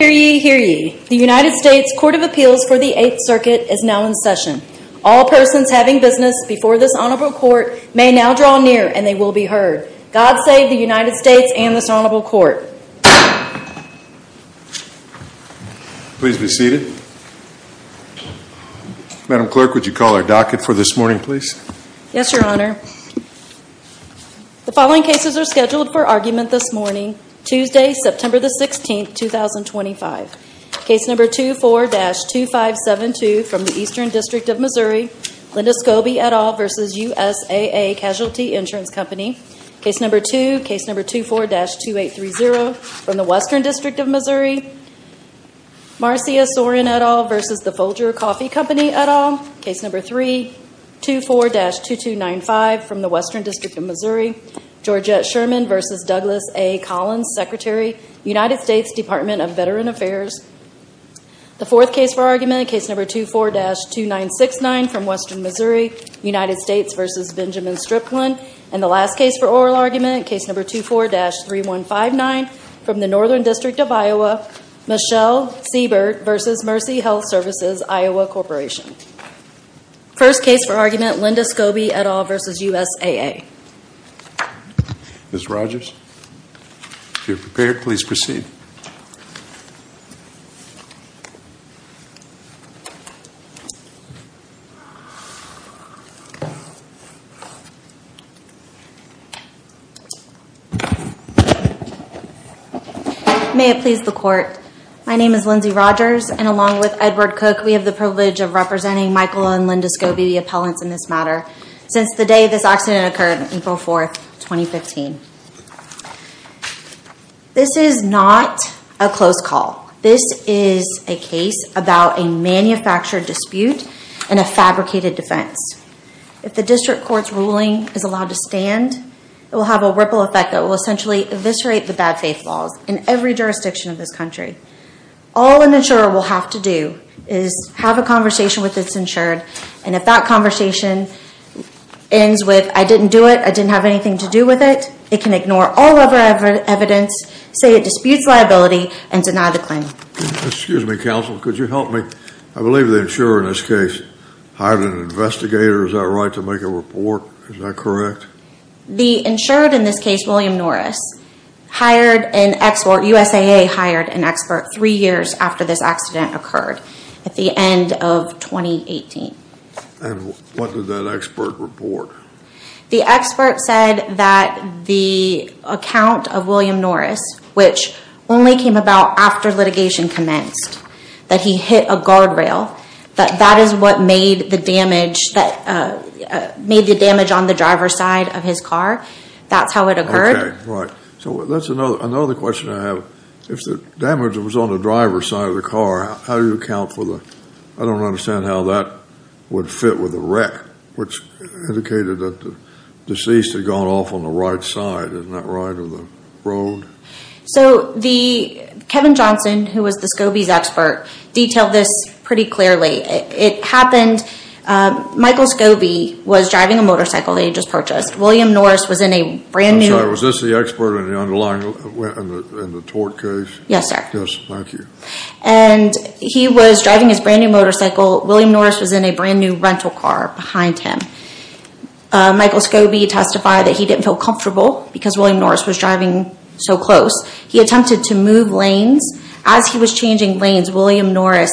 The United States Court of Appeals for the Eighth Circuit is now in session. All persons having business before this Honorable Court may now draw near and they will be heard. God save the United States and this Honorable Court. Please be seated. Madam Clerk, would you call our docket for this morning, please? Yes, Your Honor. The following cases are scheduled for argument this morning, Tuesday, September 16, 2025. Case No. 24-2572 from the Eastern District of Missouri, Linda Scobee et al. v. USAA Casualty Insurance Company. Case No. 2, Case No. 24-2830 from the Western District of Missouri, Marcia Sorin et al. v. Folger Coffee Company et al. Case No. 3, Case No. 24-2295 from the Western District of Missouri, Georgette Sherman v. Douglas A. Collins, Secretary, United States Department of Veteran Affairs. The fourth case for argument, Case No. 24-2969 from Western Missouri, United States v. Benjamin Stripland. And the last case for oral argument, Case No. 24-3159 from the Northern District of Iowa, Michelle Siebert v. Mercy Health Services, Iowa Corporation. First case for argument, Linda Scobee et al. v. USAA. Ms. Rogers, if you're prepared, please proceed. May it please the Court, my name is Lindsay Rogers, and along with Edward Cook, we have the privilege of representing Michael and Linda Scobee, the appellants in this matter, since the day this accident occurred on April 4, 2015. This is not a closed call. This is a case about a manufactured dispute and a fabricated defense. If the district court's ruling is allowed to stand, it will have a ripple effect that will essentially eviscerate the bad faith laws in every jurisdiction of this country. All an insurer will have to do is have a conversation with its insured, and if that conversation ends with, I didn't do it, I didn't have anything to do with it, it can ignore all other evidence, say it disputes liability, and deny the claim. Excuse me, counsel, could you help me? I believe the insurer in this case hired an investigator, is that right, to make a report? Is that correct? The insured in this case, William Norris, hired an expert, USAA hired an expert, three years after this accident occurred, at the end of 2018. And what did that expert report? The expert said that the account of William Norris, which only came about after litigation commenced, that he hit a guardrail, that that is what made the damage on the driver's side of his car, that's how it occurred. Okay, right. So that's another question I have. If the damage was on the driver's side of the car, how do you account for the, I don't understand how that would fit with the wreck, which indicated that the deceased had gone off on the right side, isn't that right, of the road? So the, Kevin Johnson, who was the SCOBY's expert, detailed this pretty clearly. It happened, Michael SCOBY was driving a motorcycle that he had just purchased. I'm sorry, was this the expert in the underlying, in the tort case? Yes, sir. Yes, thank you. And he was driving his brand new motorcycle, William Norris was in a brand new rental car behind him. Michael SCOBY testified that he didn't feel comfortable, because William Norris was driving so close. He attempted to move lanes. As he was changing lanes, William Norris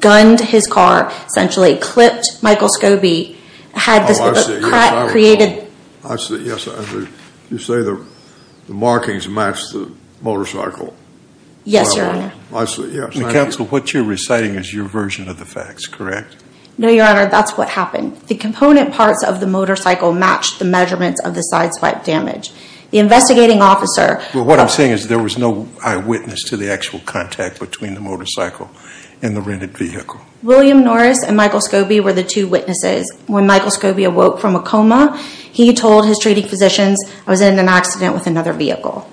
gunned his car, essentially, clipped Michael SCOBY, had the crack created. I see, yes. You say the markings match the motorcycle. Yes, your honor. I see, yes. Counsel, what you're reciting is your version of the facts, correct? No, your honor, that's what happened. The component parts of the motorcycle matched the measurements of the side swipe damage. The investigating officer… Well, what I'm saying is there was no eyewitness to the actual contact between the motorcycle and the rented vehicle. William Norris and Michael SCOBY were the two witnesses. When Michael SCOBY awoke from a coma, he told his treating physicians, I was in an accident with another vehicle.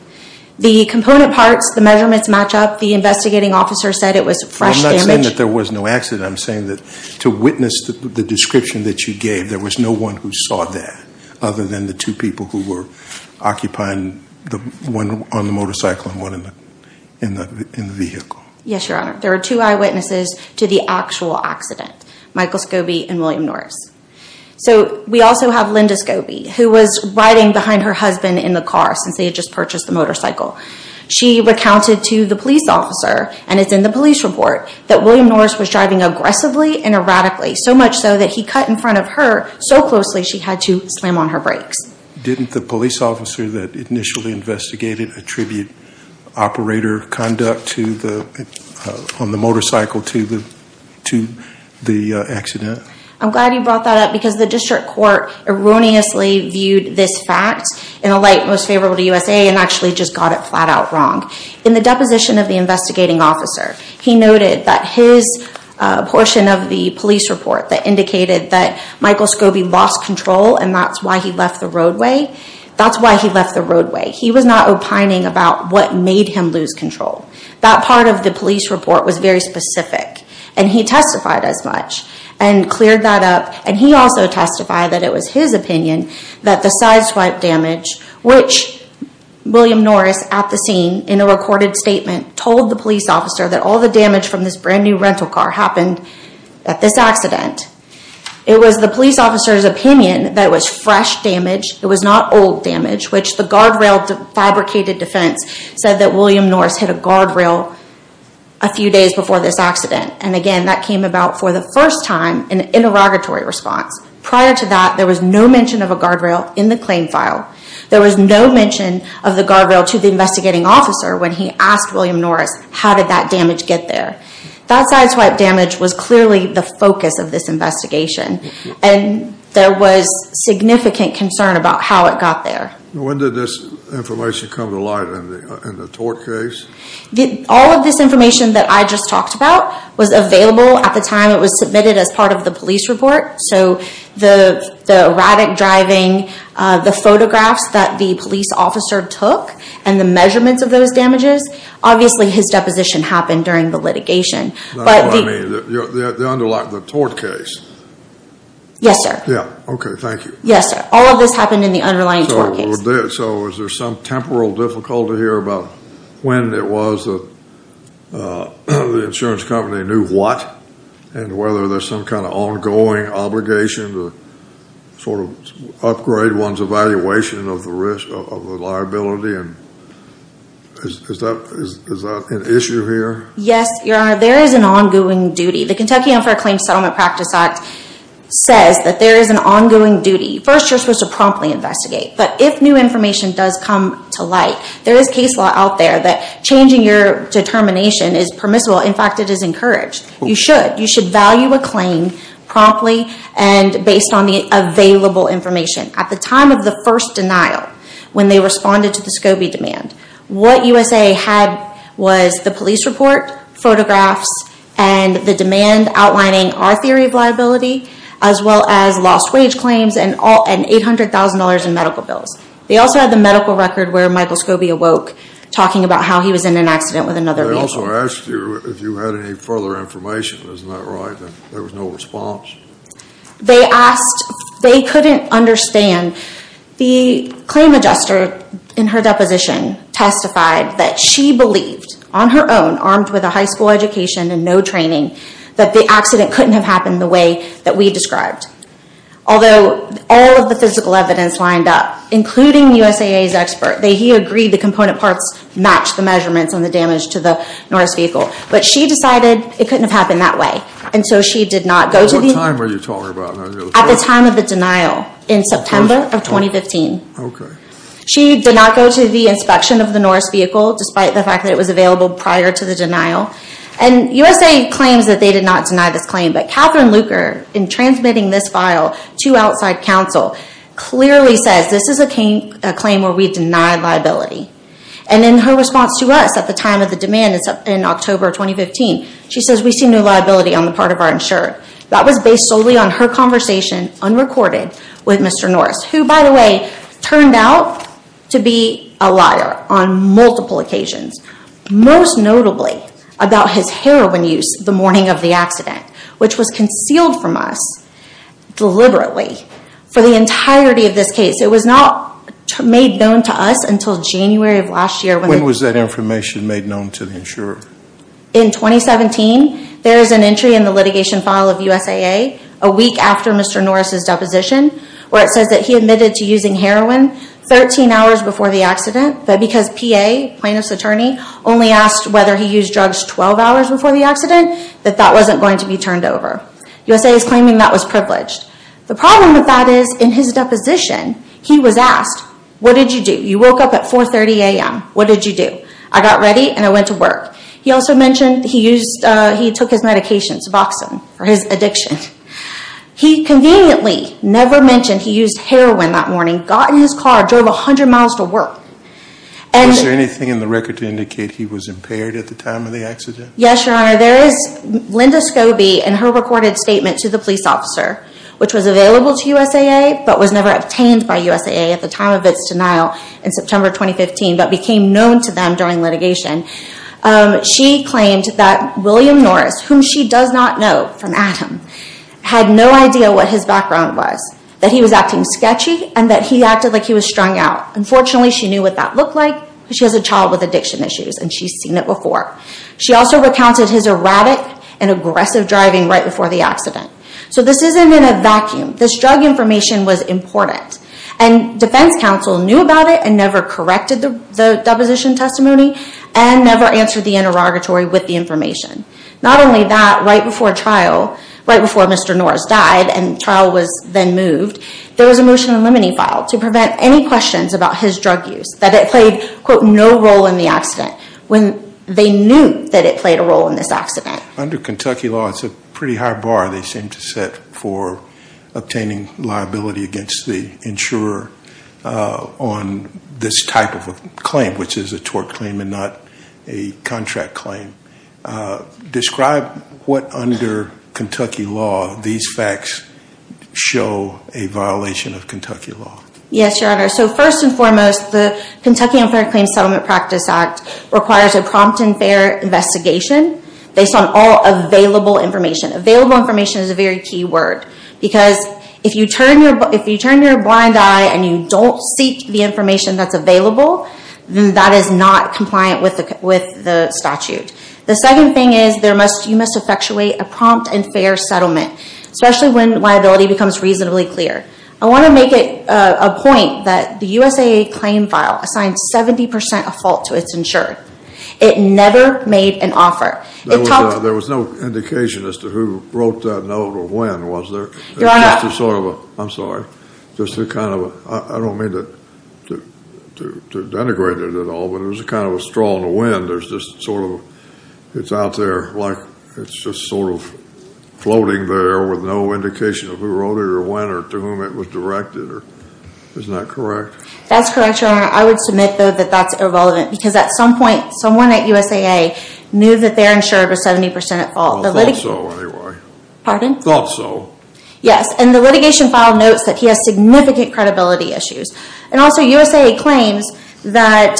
The component parts, the measurements match up. The investigating officer said it was fresh damage. I'm not saying that there was no accident. I'm saying that to witness the description that you gave, there was no one who saw that other than the two people who were occupying the one on the motorcycle and one in the vehicle. Yes, your honor. There were two eyewitnesses to the actual accident, Michael SCOBY and William Norris. So, we also have Linda SCOBY, who was riding behind her husband in the car since they had just purchased the motorcycle. She recounted to the police officer, and it's in the police report, that William Norris was driving aggressively and erratically. So much so that he cut in front of her so closely she had to slam on her brakes. Didn't the police officer that initially investigated attribute operator conduct on the motorcycle to the accident? I'm glad you brought that up because the district court erroneously viewed this fact in a light most favorable to USA and actually just got it flat out wrong. In the deposition of the investigating officer, he noted that his portion of the police report that indicated that Michael SCOBY lost control and that's why he left the roadway. That's why he left the roadway. He was not opining about what made him lose control. That part of the police report was very specific and he testified as much and cleared that up. He also testified that it was his opinion that the side swipe damage, which William Norris at the scene in a recorded statement told the police officer that all the damage from this brand new rental car happened at this accident. It was the police officer's opinion that it was fresh damage, it was not old damage, which the guardrail fabricated defense said that William Norris hit a guardrail a few days before this accident. And again, that came about for the first time in an interrogatory response. Prior to that, there was no mention of a guardrail in the claim file. There was no mention of the guardrail to the investigating officer when he asked William Norris how did that damage get there. That side swipe damage was clearly the focus of this investigation and there was significant concern about how it got there. When did this information come to light in the tort case? All of this information that I just talked about was available at the time it was submitted as part of the police report. So the erratic driving, the photographs that the police officer took, and the measurements of those damages, obviously his deposition happened during the litigation. That's what I mean, the underline, the tort case. Yes, sir. Okay, thank you. Yes, sir. All of this happened in the underlying tort case. So is there some temporal difficulty here about when it was that the insurance company knew what? And whether there's some kind of ongoing obligation to sort of upgrade one's evaluation of the risk of the liability? Is that an issue here? Yes, Your Honor, there is an ongoing duty. The Kentucky Unfair Claims Settlement Practice Act says that there is an ongoing duty. First, you're supposed to promptly investigate. But if new information does come to light, there is case law out there that changing your determination is permissible. In fact, it is encouraged. You should. You should value a claim promptly and based on the available information. At the time of the first denial, when they responded to the SCOBY demand, what USA had was the police report, photographs, and the demand outlining our theory of liability, as well as lost wage claims and $800,000 in medical bills. They also had the medical record where Michael SCOBY awoke talking about how he was in an accident with another vehicle. They also asked you if you had any further information. Isn't that right? There was no response. They asked, they couldn't understand. The claim adjuster in her deposition testified that she believed, on her own, armed with a high school education and no training, that the accident couldn't have happened the way that we described. Although all of the physical evidence lined up, including USAA's expert. He agreed the component parts matched the measurements and the damage to the Norris vehicle. But she decided it couldn't have happened that way. At what time were you talking about? At the time of the denial, in September of 2015. Okay. She did not go to the inspection of the Norris vehicle, despite the fact that it was available prior to the denial. And USA claims that they did not deny this claim, but Catherine Luker, in transmitting this file to outside counsel, clearly says this is a claim where we deny liability. And in her response to us at the time of the demand in October 2015, she says we see no liability on the part of our insurer. That was based solely on her conversation, unrecorded, with Mr. Norris. Who, by the way, turned out to be a liar on multiple occasions. Most notably, about his heroin use the morning of the accident. Which was concealed from us, deliberately, for the entirety of this case. It was not made known to us until January of last year. When was that information made known to the insurer? In 2017. There is an entry in the litigation file of USAA, a week after Mr. Norris' deposition, where it says that he admitted to using heroin 13 hours before the accident. But because PA, plaintiff's attorney, only asked whether he used drugs 12 hours before the accident, that that wasn't going to be turned over. USA is claiming that was privileged. The problem with that is, in his deposition, he was asked, what did you do? You woke up at 4.30 a.m., what did you do? I got ready and I went to work. He also mentioned he took his medication, Suboxone, for his addiction. He conveniently never mentioned he used heroin that morning. Got in his car, drove 100 miles to work. Was there anything in the record to indicate he was impaired at the time of the accident? Yes, Your Honor. There is Linda Scobie and her recorded statement to the police officer, which was available to USAA, but was never obtained by USAA at the time of its denial in September 2015, but became known to them during litigation. She claimed that William Norris, whom she does not know from Adam, had no idea what his background was, that he was acting sketchy, and that he acted like he was strung out. Unfortunately, she knew what that looked like because she has a child with addiction issues, and she's seen it before. She also recounted his erratic and aggressive driving right before the accident. So this isn't in a vacuum. This drug information was important. And defense counsel knew about it and never corrected the deposition testimony and never answered the interrogatory with the information. Not only that, right before trial, right before Mr. Norris died and trial was then moved, there was a motion eliminating file to prevent any questions about his drug use, that it played, quote, no role in the accident, when they knew that it played a role in this accident. Under Kentucky law, it's a pretty high bar they seem to set for obtaining liability against the insurer on this type of a claim, which is a tort claim and not a contract claim. Describe what, under Kentucky law, these facts show a violation of Kentucky law. Yes, Your Honor. So first and foremost, the Kentucky Unfair Claims Settlement Practice Act requires a prompt and fair investigation based on all available information. Available information is a very key word because if you turn your blind eye and you don't seek the information that's available, then that is not compliant with the statute. The second thing is you must effectuate a prompt and fair settlement, especially when liability becomes reasonably clear. I want to make it a point that the USAA claim file assigned 70% of fault to its insurer. It never made an offer. There was no indication as to who wrote that note or when, was there? Your Honor. It's just a sort of a, I'm sorry, just a kind of a, I don't mean to denigrate it at all, but it was a kind of a straw in the wind. There's just sort of, it's out there like it's just sort of floating there with no indication of who wrote it or when or to whom it was directed. Isn't that correct? That's correct, Your Honor. I would submit, though, that that's irrelevant because at some point someone at USAA knew that their insurer was 70% at fault. I thought so anyway. Pardon? I thought so. Yes, and the litigation file notes that he has significant credibility issues. And also USAA claims that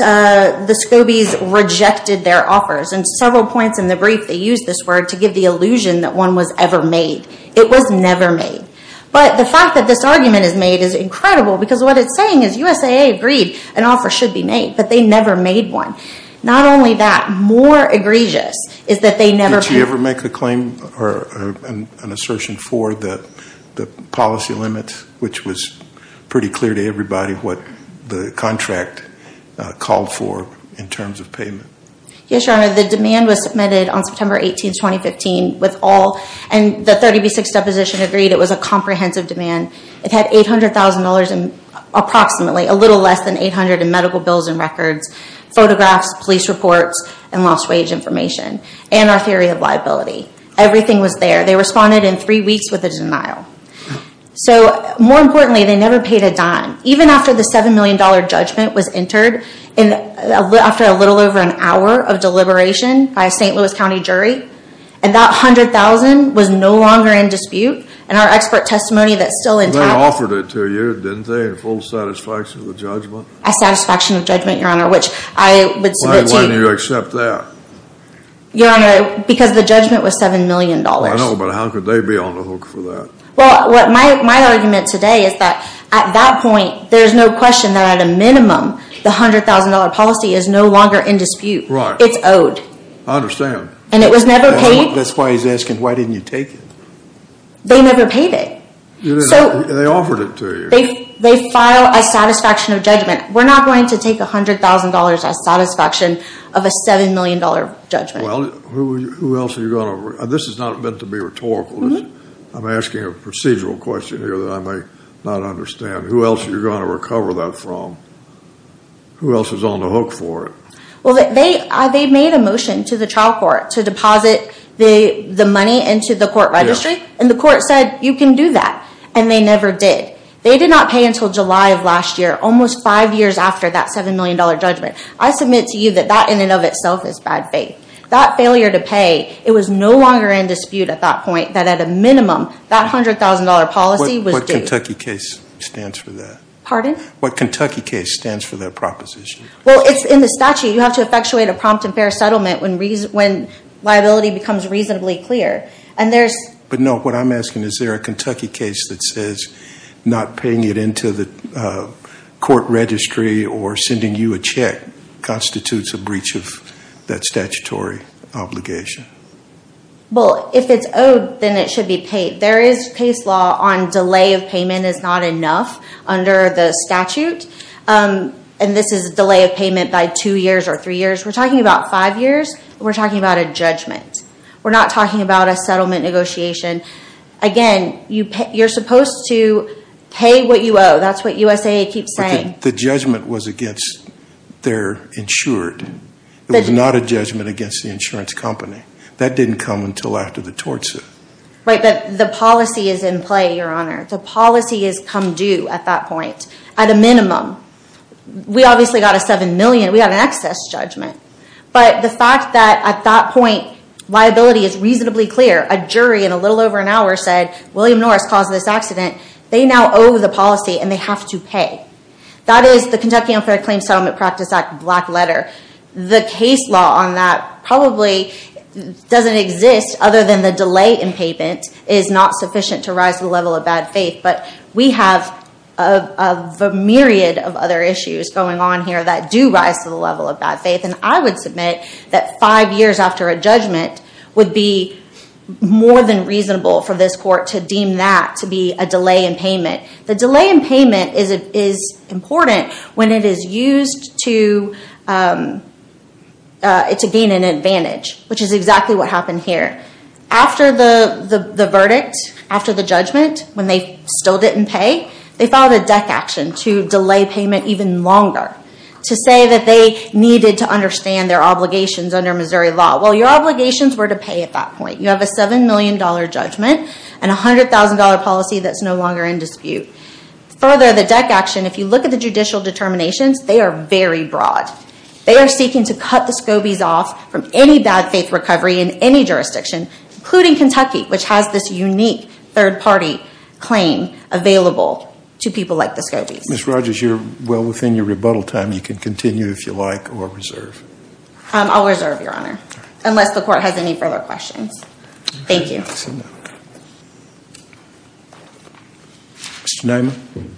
the SCOBIs rejected their offers. And several points in the brief they used this word to give the illusion that one was ever made. It was never made. But the fact that this argument is made is incredible because what it's saying is USAA agreed an offer should be made, but they never made one. Not only that, more egregious is that they never paid. Did she ever make a claim or an assertion for the policy limits, which was pretty clear to everybody what the contract called for in terms of payment? Yes, Your Honor. The demand was submitted on September 18, 2015 with all, and the 30B6 deposition agreed it was a comprehensive demand. It had $800,000 approximately, a little less than $800,000 in medical bills and records, photographs, police reports, and lost wage information, and our theory of liability. Everything was there. They responded in three weeks with a denial. So more importantly, they never paid a dime. Even after the $7 million judgment was entered after a little over an hour of deliberation by a St. Louis County jury, and that $100,000 was no longer in dispute, and our expert testimony that's still intact. They offered it to you, didn't they, in full satisfaction of the judgment? A satisfaction of judgment, Your Honor, which I would submit to you. Why didn't you accept that? Your Honor, because the judgment was $7 million. I know, but how could they be on the hook for that? Well, my argument today is that at that point there's no question that at a minimum the $100,000 policy is no longer in dispute. It's owed. I understand. And it was never paid. That's why he's asking why didn't you take it. They never paid it. They offered it to you. They file a satisfaction of judgment. We're not going to take $100,000 as satisfaction of a $7 million judgment. Well, who else are you going to? This is not meant to be rhetorical. I'm asking a procedural question here that I may not understand. Who else are you going to recover that from? Who else is on the hook for it? Well, they made a motion to the trial court to deposit the money into the court registry, and the court said you can do that, and they never did. They did not pay until July of last year, almost five years after that $7 million judgment. I submit to you that that in and of itself is bad faith. That failure to pay, it was no longer in dispute at that point, that at a minimum, that $100,000 policy was due. What Kentucky case stands for that? Pardon? What Kentucky case stands for that proposition? Well, it's in the statute. You have to effectuate a prompt and fair settlement when liability becomes reasonably clear. But no, what I'm asking is there a Kentucky case that says not paying it into the court registry or sending you a check constitutes a breach of that statutory obligation? Well, if it's owed, then it should be paid. There is case law on delay of payment is not enough under the statute, and this is delay of payment by two years or three years. We're talking about five years. We're talking about a judgment. We're not talking about a settlement negotiation. Again, you're supposed to pay what you owe. That's what USAID keeps saying. The judgment was against their insured. It was not a judgment against the insurance company. That didn't come until after the tort suit. Right, but the policy is in play, Your Honor. The policy has come due at that point, at a minimum. We obviously got a $7 million. We got an excess judgment. But the fact that at that point liability is reasonably clear, a jury in a little over an hour said, William Norris caused this accident. They now owe the policy, and they have to pay. That is the Kentucky Unfair Claims Settlement Practice Act black letter. The case law on that probably doesn't exist, other than the delay in payment is not sufficient to rise the level of bad faith. But we have a myriad of other issues going on here that do rise to the level of bad faith. And I would submit that five years after a judgment would be more than reasonable for this court to deem that to be a delay in payment. The delay in payment is important when it is used to gain an advantage, which is exactly what happened here. After the verdict, after the judgment, when they still didn't pay, they filed a deck action to delay payment even longer, to say that they needed to understand their obligations under Missouri law. Well, your obligations were to pay at that point. You have a $7 million judgment and a $100,000 policy that's no longer in dispute. Further, the deck action, if you look at the judicial determinations, they are very broad. They are seeking to cut the Scobies off from any bad faith recovery in any jurisdiction, including Kentucky, which has this unique third party claim available to people like the Scobies. Ms. Rogers, you're well within your rebuttal time. You can continue if you like or reserve. I'll reserve, Your Honor, unless the court has any further questions. Thank you. Mr. Nyman.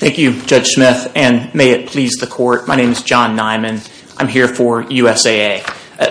Thank you, Judge Smith, and may it please the court. My name is John Nyman. I'm here for USAA.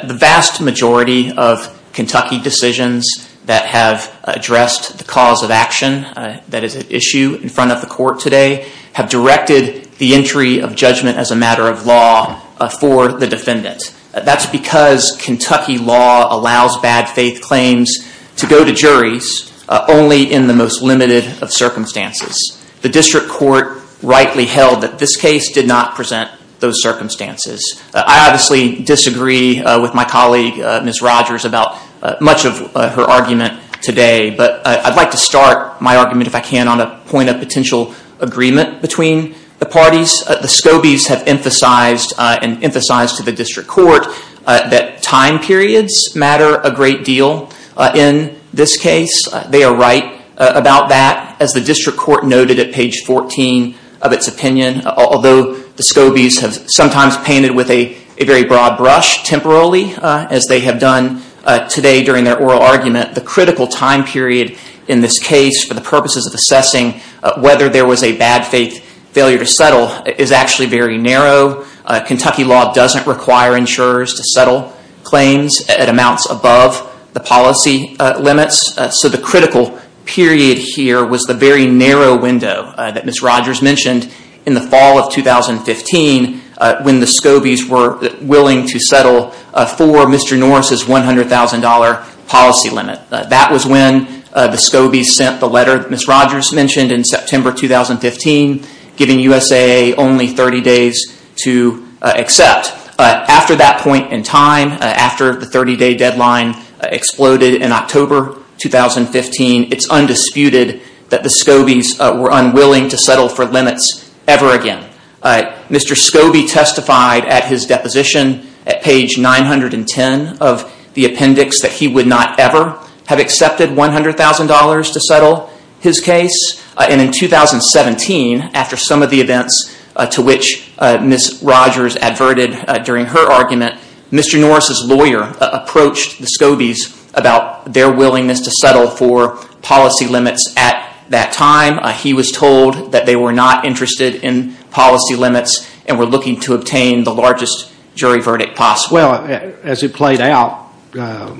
The vast majority of Kentucky decisions that have addressed the cause of action that is at issue in front of the court today have directed the entry of judgment as a matter of law for the defendant. That's because Kentucky law allows bad faith claims to go to juries only in the most limited of circumstances. The district court rightly held that this case did not present those circumstances. I obviously disagree with my colleague, Ms. Rogers, about much of her argument today, but I'd like to start my argument, if I can, on a point of potential agreement between the parties. The Scobies have emphasized and emphasized to the district court that time periods matter a great deal in this case. They are right about that. As the district court noted at page 14 of its opinion, although the Scobies have sometimes painted with a very broad brush temporarily, as they have done today during their oral argument, the critical time period in this case for the purposes of assessing whether there was a bad faith failure to settle is actually very narrow. Kentucky law doesn't require insurers to settle claims at amounts above the policy limits, so the critical period here was the very narrow window that Ms. Rogers mentioned in the fall of 2015 when the Scobies were willing to settle for Mr. Norris's $100,000 policy limit. That was when the Scobies sent the letter Ms. Rogers mentioned in September 2015, giving USAA only 30 days to accept. After that point in time, after the 30-day deadline exploded in October 2015, it's undisputed that the Scobies were unwilling to settle for limits ever again. Mr. Scobie testified at his deposition at page 910 of the appendix that he would not ever have accepted $100,000 to settle his case. In 2017, after some of the events to which Ms. Rogers adverted during her argument, Mr. Norris's lawyer approached the Scobies about their willingness to settle for policy limits at that time. He was told that they were not interested in policy limits and were looking to obtain the largest jury verdict possible. Well, as it played out, that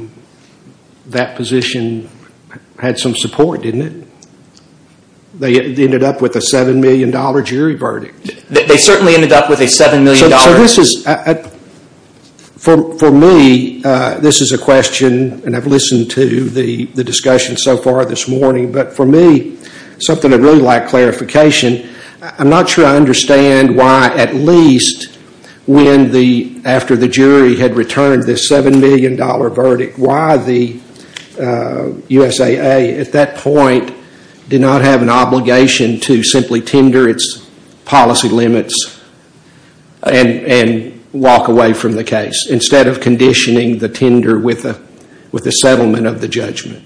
position had some support, didn't it? They ended up with a $7 million jury verdict. They certainly ended up with a $7 million... For me, this is a question, and I've listened to the discussion so far this morning, but for me, something I'd really like clarification. I'm not sure I understand why, at least after the jury had returned this $7 million verdict, why the USAA at that point did not have an obligation to simply tender its policy limits and walk away from the case instead of conditioning the tender with the settlement of the judgment.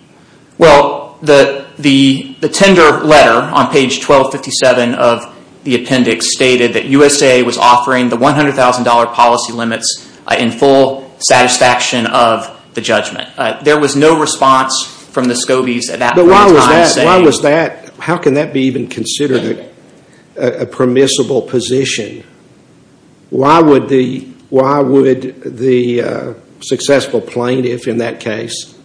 Well, the tender letter on page 1257 of the appendix stated that the USAA was offering the $100,000 policy limits in full satisfaction of the judgment. There was no response from the Scobies at that point in time saying... But why was that? How can that be even considered a permissible position? Why would the successful plaintiff in that case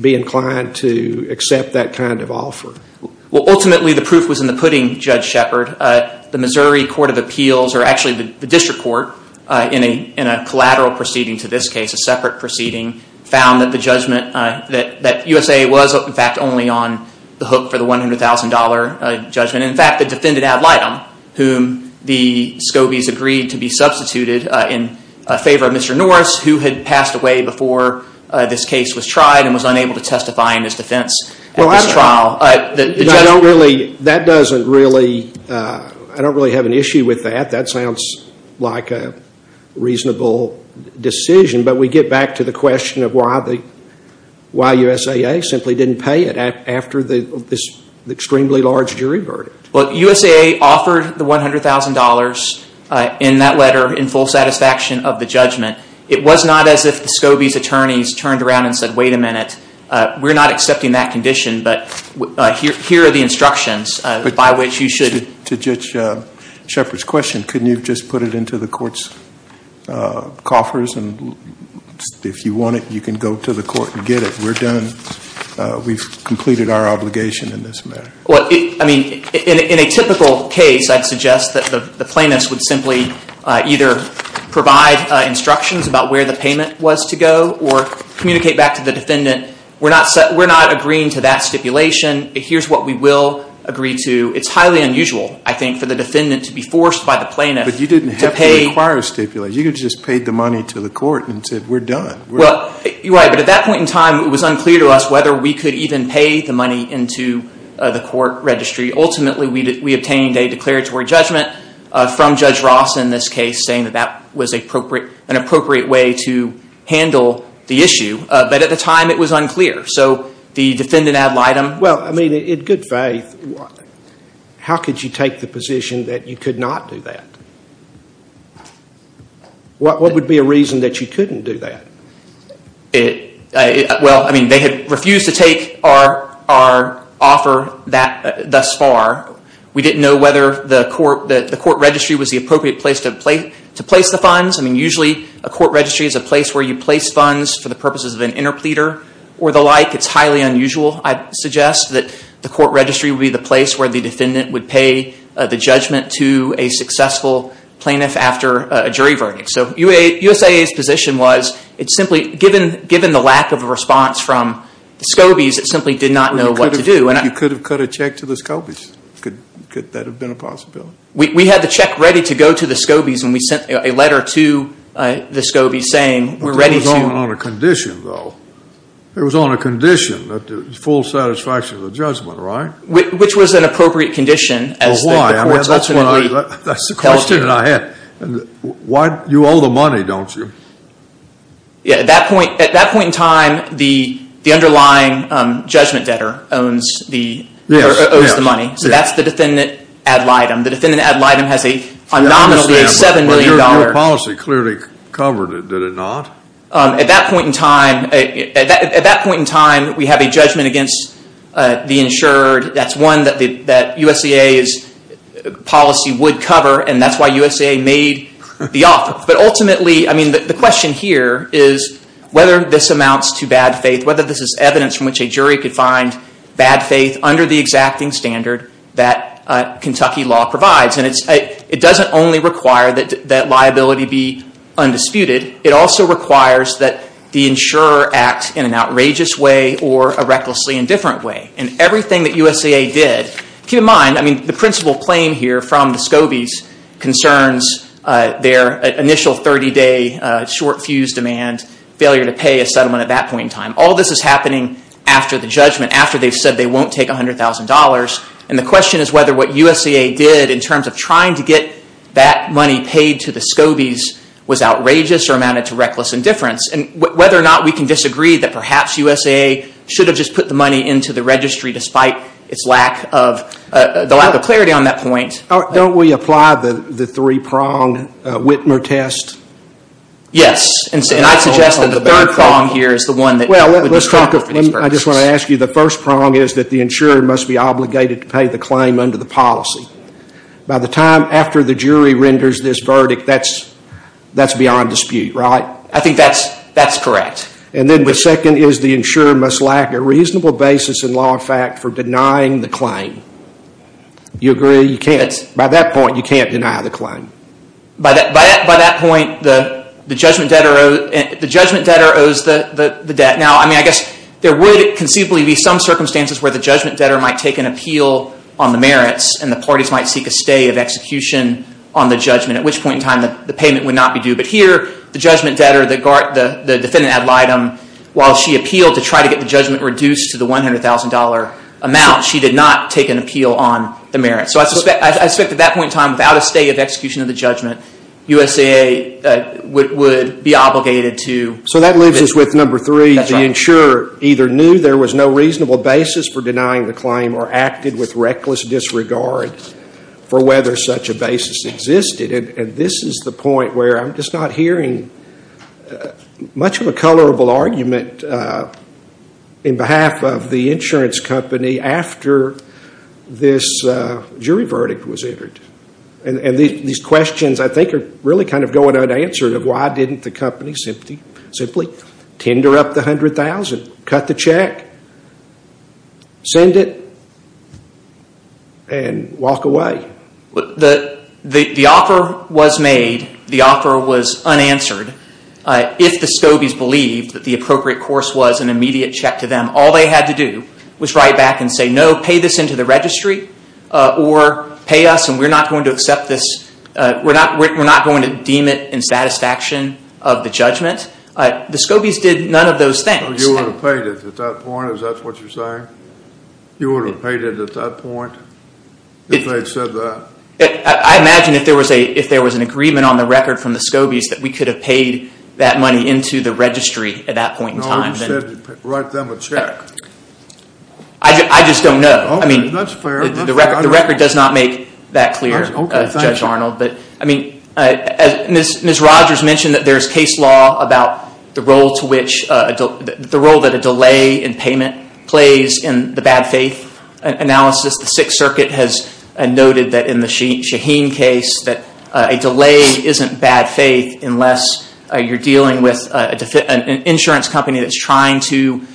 be inclined to accept that kind of offer? Well, ultimately, the proof was in the pudding, Judge Shepard. The Missouri District Court, in a collateral proceeding to this case, a separate proceeding, found that the USAA was, in fact, only on the hook for the $100,000 judgment. In fact, it defended Ad Litem, whom the Scobies agreed to be substituted in favor of Mr. Norris, who had passed away before this case was tried and was unable to testify in his defense at this trial. That doesn't really... I don't really have an issue with that. That sounds like a reasonable decision. But we get back to the question of why USAA simply didn't pay it after this extremely large jury verdict. Well, USAA offered the $100,000 in that letter in full satisfaction of the judgment. It was not as if the Scobies' attorneys turned around and said, wait a minute, we're not accepting that condition, but here are the instructions by which you should... To Judge Shepard's question, couldn't you just put it into the court's coffers, and if you want it, you can go to the court and get it. We're done. We've completed our obligation in this matter. Well, I mean, in a typical case, I'd suggest that the plaintiffs would simply either provide instructions about where the payment was to go or communicate back to the defendant, we're not agreeing to that stipulation. Here's what we will agree to. It's highly unusual, I think, for the defendant to be forced by the plaintiff to pay... But you didn't have to require a stipulation. You could have just paid the money to the court and said, we're done. Right, but at that point in time, it was unclear to us whether we could even pay the money into the court registry. Ultimately, we obtained a declaratory judgment from Judge Ross in this case, saying that that was an appropriate way to handle the issue, but at the time, it was unclear. So the defendant ad litem... Well, I mean, in good faith, how could you take the position that you could not do that? What would be a reason that you couldn't do that? Well, I mean, they had refused to take our offer thus far. We didn't know whether the court registry was the appropriate place to place the funds. I mean, usually, a court registry is a place where you place funds for the purposes of an interpleader or the like. It's highly unusual, I'd suggest, that the court registry would be the place where the defendant would pay the judgment to a successful plaintiff after a jury verdict. So USIA's position was, given the lack of a response from the Scobies, it simply did not know what to do. You could have cut a check to the Scobies. Could that have been a possibility? We had the check ready to go to the Scobies, and we sent a letter to the Scobies saying, we're ready to... That was on a condition, though. It was on a condition that there was full satisfaction of the judgment, right? Which was an appropriate condition. Well, why? That's the question that I had. You owe the money, don't you? Yeah, at that point in time, the underlying judgment debtor owes the money. So that's the defendant ad litem. The defendant ad litem has a nominally $7 million... Your policy clearly covered it, did it not? At that point in time, we have a judgment against the insured. That's one that USIA's policy would cover, and that's why USIA made the offer. But ultimately, I mean, the question here is whether this amounts to bad faith, whether this is evidence from which a jury could find bad faith under the exacting standard that Kentucky law provides. And it doesn't only require that liability be undisputed. It also requires that the insurer act in an outrageous way or a recklessly indifferent way. And everything that USIA did... Keep in mind, I mean, the principal claim here from the SCOBIs concerns their initial 30-day short fuse demand, failure to pay a settlement at that point in time. All this is happening after the judgment, after they've said they won't take $100,000. And the question is whether what USIA did in terms of trying to get that money paid to the SCOBIs was outrageous or amounted to reckless indifference. And whether or not we can disagree that perhaps USIA should have just put the money into the registry despite the lack of clarity on that point. Don't we apply the three-pronged Whitmer test? Yes. And I suggest that the third prong here is the one that... Well, let's talk of... I just want to ask you, the first prong is that the insurer must be obligated to pay the claim under the policy. By the time after the jury renders this verdict, that's beyond dispute, right? I think that's correct. And then the second is the insurer must lack a reasonable basis in law and fact for denying the claim. Do you agree? By that point, you can't deny the claim. By that point, the judgment debtor owes the debt. Now, I guess there would conceivably be some circumstances where the judgment debtor might take an appeal on the merits and the parties might seek a stay of execution on the judgment, at which point in time the payment would not be due. But here, the judgment debtor, the defendant ad litem, while she appealed to try to get the judgment reduced to the $100,000 amount, she did not take an appeal on the merits. So I suspect at that point in time, without a stay of execution of the judgment, USAA would be obligated to... So that leaves us with number three. The insurer either knew there was no reasonable basis for denying the claim or acted with reckless disregard for whether such a basis existed. And this is the point where I'm just not hearing much of a colorable argument in behalf of the insurance company after this jury verdict was entered. And these questions, I think, are really kind of going unanswered of why didn't the company simply tender up the $100,000, cut the check, send it, and walk away. The offer was made. The offer was unanswered. If the Scobies believed that the appropriate course was an immediate check to them, all they had to do was write back and say, No, pay this into the registry or pay us and we're not going to accept this. We're not going to deem it in satisfaction of the judgment. The Scobies did none of those things. You would have paid it at that point. Is that what you're saying? You would have paid it at that point if they had said that? I imagine if there was an agreement on the record from the Scobies that we could have paid that money into the registry at that point in time. No, you said write them a check. I just don't know. That's fair. The record does not make that clear, Judge Arnold. Ms. Rogers mentioned that there's case law about the role that a delay in payment plays in the bad faith analysis. The Sixth Circuit has noted that in the Shaheen case, that a delay isn't bad faith unless you're dealing with an insurance company that's trying to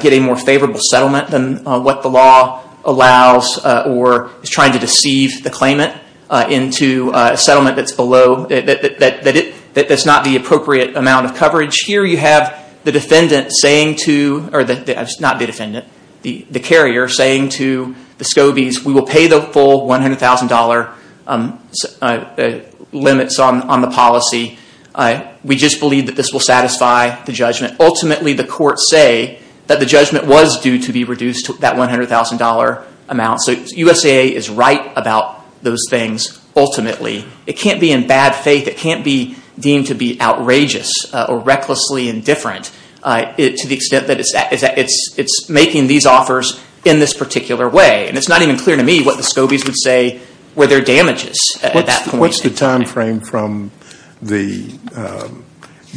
get a more favorable settlement than what the law allows or is trying to deceive the claimant into a settlement that's not the appropriate amount of coverage. Here you have the carrier saying to the Scobies, We will pay the full $100,000 limits on the policy. We just believe that this will satisfy the judgment. Ultimately, the courts say that the judgment was due to be reduced to that $100,000 amount. So USAA is right about those things, ultimately. It can't be in bad faith. It can't be deemed to be outrageous or recklessly indifferent to the extent that it's making these offers in this particular way. It's not even clear to me what the Scobies would say were there damages at that point. What's the time frame from the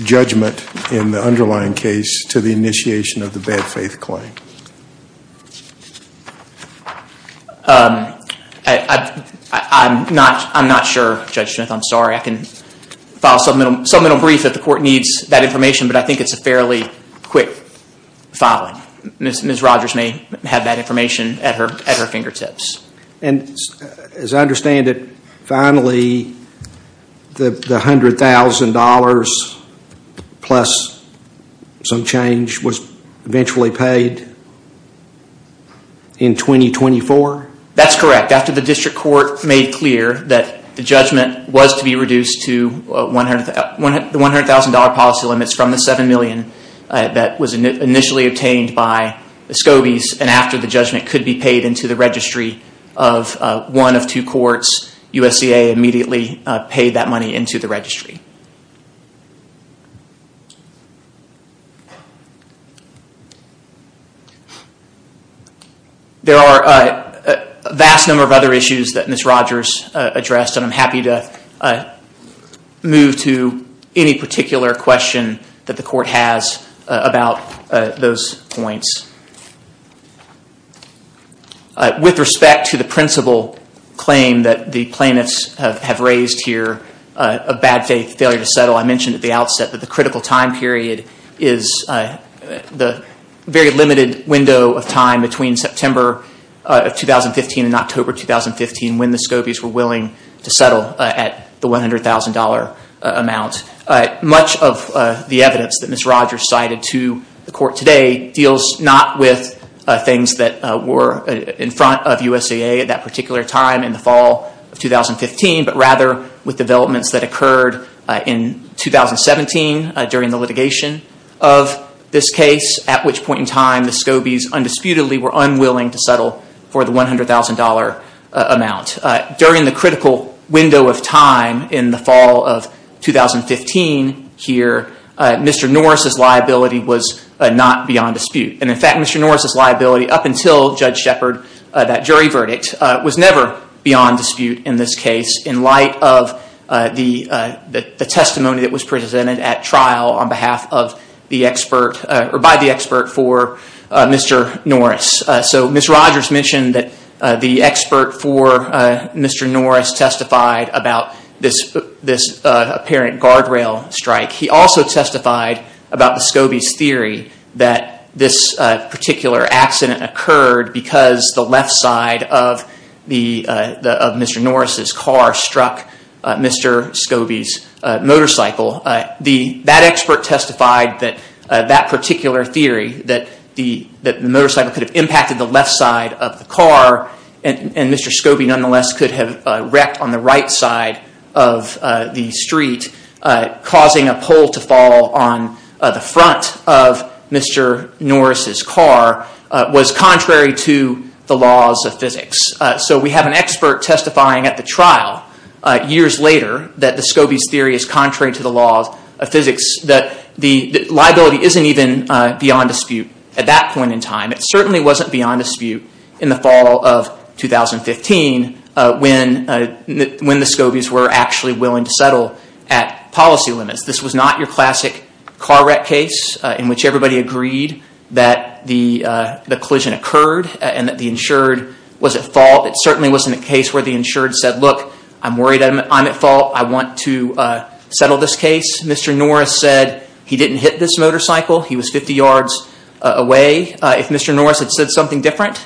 judgment in the underlying case to the initiation of the bad faith claim? I'm not sure, Judge Smith. I'm sorry. I can file a submittal brief if the court needs that information, but I think it's a fairly quick filing. Ms. Rogers may have that information at her fingertips. As I understand it, finally, the $100,000 plus some change was eventually paid in 2024? That's correct. After the district court made clear that the judgment was to be reduced to the $100,000 policy limits from the $7 million that was initially obtained by the Scobies and after the judgment could be paid into the registry of one of two courts, USAA immediately paid that money into the registry. There are a vast number of other issues that Ms. Rogers addressed, and I'm happy to move to any particular question that the court has about those points. With respect to the principal claim that the plaintiffs have raised here of bad faith, failure to settle, I mentioned at the outset that the critical time period is the very limited window of time between September of 2015 and October 2015 when the Scobies were willing to settle at the $100,000 amount. Much of the evidence that Ms. Rogers cited to the court today deals not with things that were in front of USAA at that particular time in the fall of 2015, but rather with developments that occurred in 2017 during the litigation of this case, at which point in time the Scobies undisputedly were unwilling to settle for the $100,000 amount. During the critical window of time in the fall of 2015 here, Mr. Norris's liability was not beyond dispute. In fact, Mr. Norris's liability up until Judge Shepard, that jury verdict, was never beyond dispute in this case in light of the testimony that was presented at trial by the expert for Mr. Norris. Ms. Rogers mentioned that the expert for Mr. Norris testified about this apparent guardrail strike. He also testified about the Scobies' theory that this particular accident occurred because the left side of Mr. Norris's car struck Mr. Scobies' motorcycle. That expert testified that that particular theory, that the motorcycle could have impacted the left side of the car and Mr. Scobie nonetheless could have wrecked on the right side of the street, causing a pole to fall on the front of Mr. Norris's car, was contrary to the laws of physics. So we have an expert testifying at the trial years later that the Scobies' theory is contrary to the laws of physics, that the liability isn't even beyond dispute at that point in time. It certainly wasn't beyond dispute in the fall of 2015 when the Scobies were actually willing to settle at policy limits. This was not your classic car wreck case in which everybody agreed that the collision occurred and that the insured was at fault. It certainly wasn't a case where the insured said, look, I'm worried I'm at fault. I want to settle this case. Mr. Norris said he didn't hit this motorcycle. He was 50 yards away. If Mr. Norris had said something different,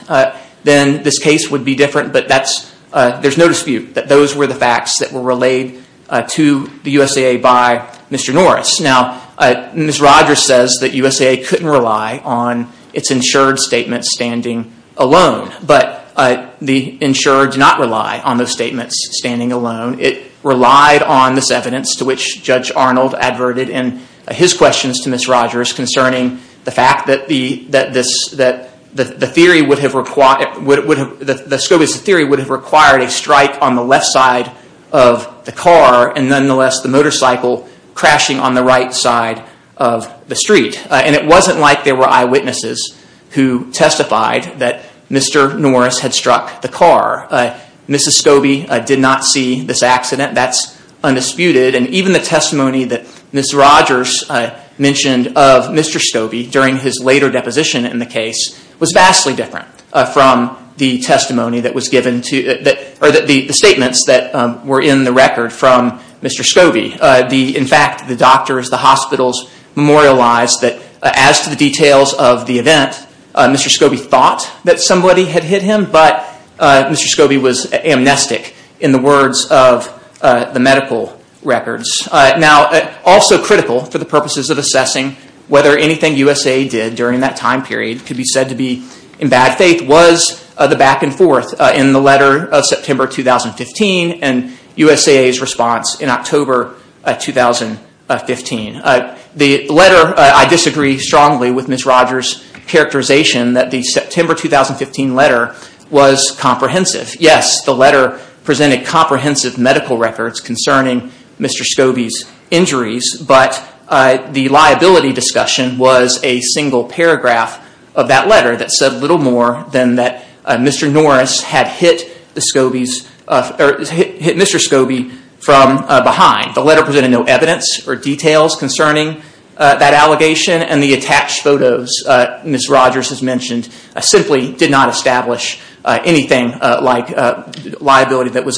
then this case would be different, but there's no dispute that those were the facts that were relayed to the USAA by Mr. Norris. Now, Ms. Rogers says that USAA couldn't rely on its insured statement standing alone, but the insured did not rely on those statements standing alone. It relied on this evidence to which Judge Arnold adverted in his questions to Ms. Rogers concerning the fact that the Scobies' theory would have required a strike on the left side of the car and nonetheless the motorcycle crashing on the right side of the street. It wasn't like there were eyewitnesses who testified that Mr. Norris had struck the car. Mrs. Scobie did not see this accident. That's undisputed. Even the testimony that Ms. Rogers mentioned of Mr. Scobie during his later deposition in the case was vastly different from the statements that were in the record from Mr. Scobie. In fact, the doctors, the hospitals memorialized that as to the details of the event, Mr. Scobie thought that somebody had hit him, but Mr. Scobie was amnestic in the words of the medical records. Also critical for the purposes of assessing whether anything USAA did during that time period could be said to be in bad faith was the back and forth in the letter of September 2015 and USAA's response in October 2015. The letter, I disagree strongly with Ms. Rogers' characterization that the September 2015 letter was comprehensive. Yes, the letter presented comprehensive medical records concerning Mr. Scobie's injuries, but the liability discussion was a single paragraph of that letter that said little more than that Mr. Norris had hit Mr. Scobie from behind. The letter presented no evidence or details concerning that allegation and the attached photos Ms. Rogers has mentioned simply did not establish anything like liability that was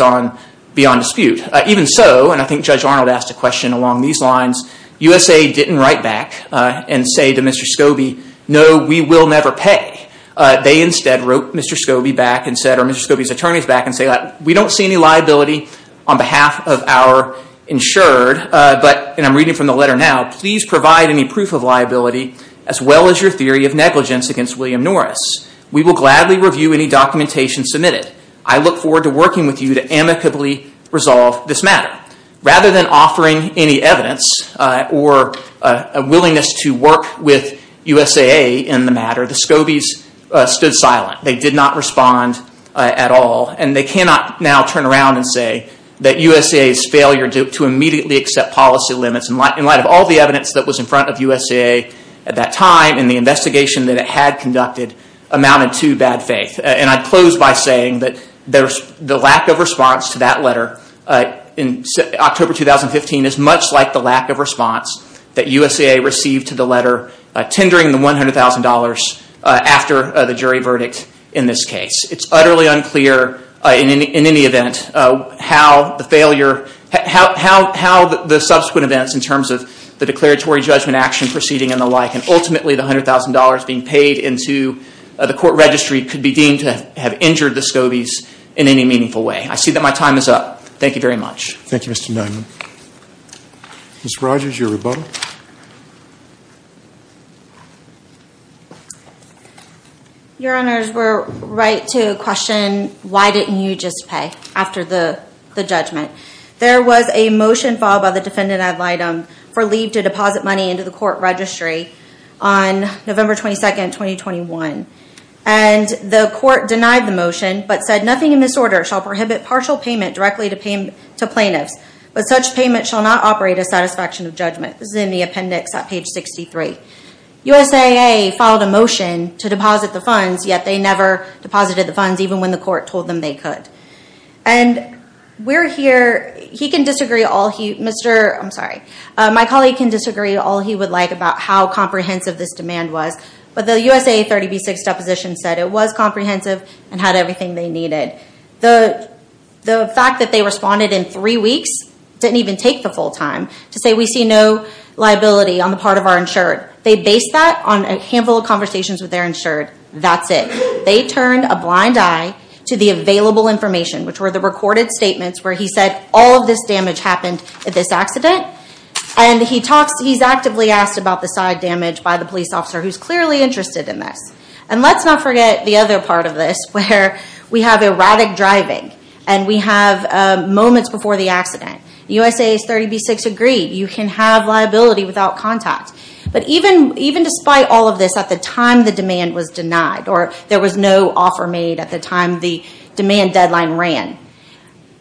beyond dispute. Even so, and I think Judge Arnold asked a question along these lines, USAA didn't write back and say to Mr. Scobie, no, we will never pay. They instead wrote Mr. Scobie back and said, or Mr. Scobie's attorneys back and said, we don't see any liability on behalf of our insured, but, and I'm reading from the letter now, please provide any proof of liability as well as your theory of negligence against William Norris. We will gladly review any documentation submitted. I look forward to working with you to amicably resolve this matter. Rather than offering any evidence or a willingness to work with USAA in the matter, the Scobies stood silent. They did not respond at all and they cannot now turn around and say that USAA's failure to immediately accept policy limits in light of all the evidence that was in front of USAA at that time and the investigation that it had conducted amounted to bad faith. And I close by saying that the lack of response to that letter in October 2015 is much like the lack of response that USAA received to the letter tendering the $100,000 after the jury verdict in this case. It's utterly unclear in any event how the failure, how the subsequent events in terms of the declaratory judgment action proceeding and the like and ultimately the $100,000 being paid into the court registry could be deemed to have injured the Scobies in any meaningful way. I see that my time is up. Thank you very much. Thank you, Mr. Diamond. Ms. Rogers, your rebuttal. Your Honors, we're right to question, why didn't you just pay after the judgment? There was a motion filed by the defendant ad litem for leave to deposit money into the court registry on November 22, 2021. And the court denied the motion but said, nothing in this order shall prohibit partial payment directly to plaintiffs, but such payment shall not operate a satisfaction of judgment. This is in the appendix at page 63. USAA filed a motion to deposit the funds, yet they never deposited the funds, even when the court told them they could. And we're here, he can disagree all he, Mr., I'm sorry, my colleague can disagree all he would like about how comprehensive this demand was, but the USAA 30B-6 deposition said it was comprehensive and had everything they needed. The fact that they responded in three weeks didn't even take the full time to say, we see no liability on the part of our insured. They based that on a handful of conversations with their insured. That's it. They turned a blind eye to the available information, which were the recorded statements where he said all of this damage happened at this accident. And he talks, he's actively asked about the side damage by the police officer who's clearly interested in this. And let's not forget the other part of this, where we have erratic driving, and we have moments before the accident. USAA's 30B-6 agreed, you can have liability without contact. But even despite all of this, at the time the demand was denied, or there was no offer made at the time the demand deadline ran,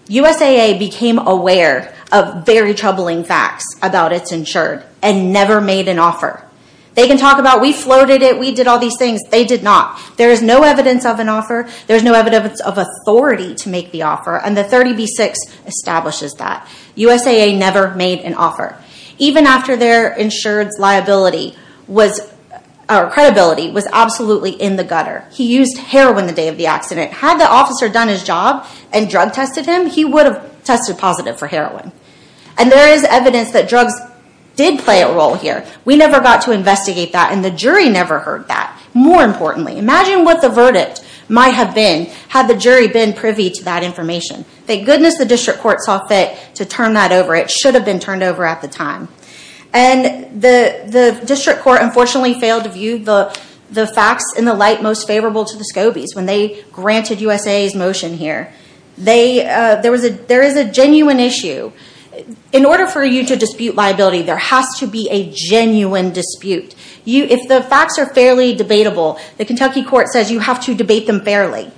USAA became aware of very troubling facts about its insured and never made an offer. They can talk about, we floated it, we did all these things. They did not. There is no evidence of an offer. There is no evidence of authority to make the offer. And the 30B-6 establishes that. USAA never made an offer. Even after their insured's credibility was absolutely in the gutter. He used heroin the day of the accident. Had the officer done his job and drug tested him, he would have tested positive for heroin. And there is evidence that drugs did play a role here. We never got to investigate that, and the jury never heard that. More importantly, imagine what the verdict might have been had the jury been privy to that information. Thank goodness the district court saw fit to turn that over. It should have been turned over at the time. And the district court unfortunately failed to view the facts in the light most favorable to the Scobies when they granted USAA's motion here. There is a genuine issue. In order for you to dispute liability, there has to be a genuine dispute. If the facts are fairly debatable, the Kentucky court says you have to debate them fairly.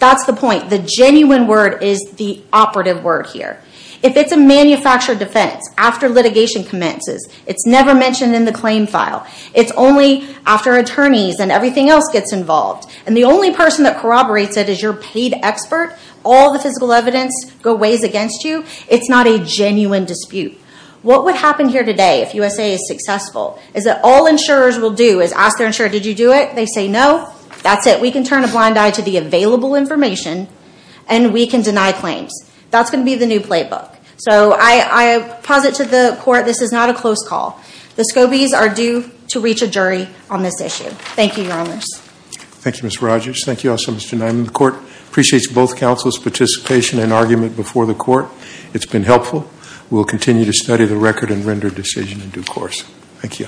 That's the point. The genuine word is the operative word here. If it's a manufactured defense, after litigation commences, it's never mentioned in the claim file, it's only after attorneys and everything else gets involved, and the only person that corroborates it is your paid expert, all the physical evidence goes against you, it's not a genuine dispute. What would happen here today if USAA is successful is that all insurers will do is ask their insurer, did you do it? They say no. That's it. We can turn a blind eye to the available information, and we can deny claims. That's going to be the new playbook. So I posit to the court this is not a close call. The Scobies are due to reach a jury on this issue. Thank you, Your Honors. Thank you, Ms. Rogers. Thank you also, Mr. Nyman. The court appreciates both counsel's participation and argument before the court. It's been helpful. We'll continue to study the record and render a decision in due course. Thank you.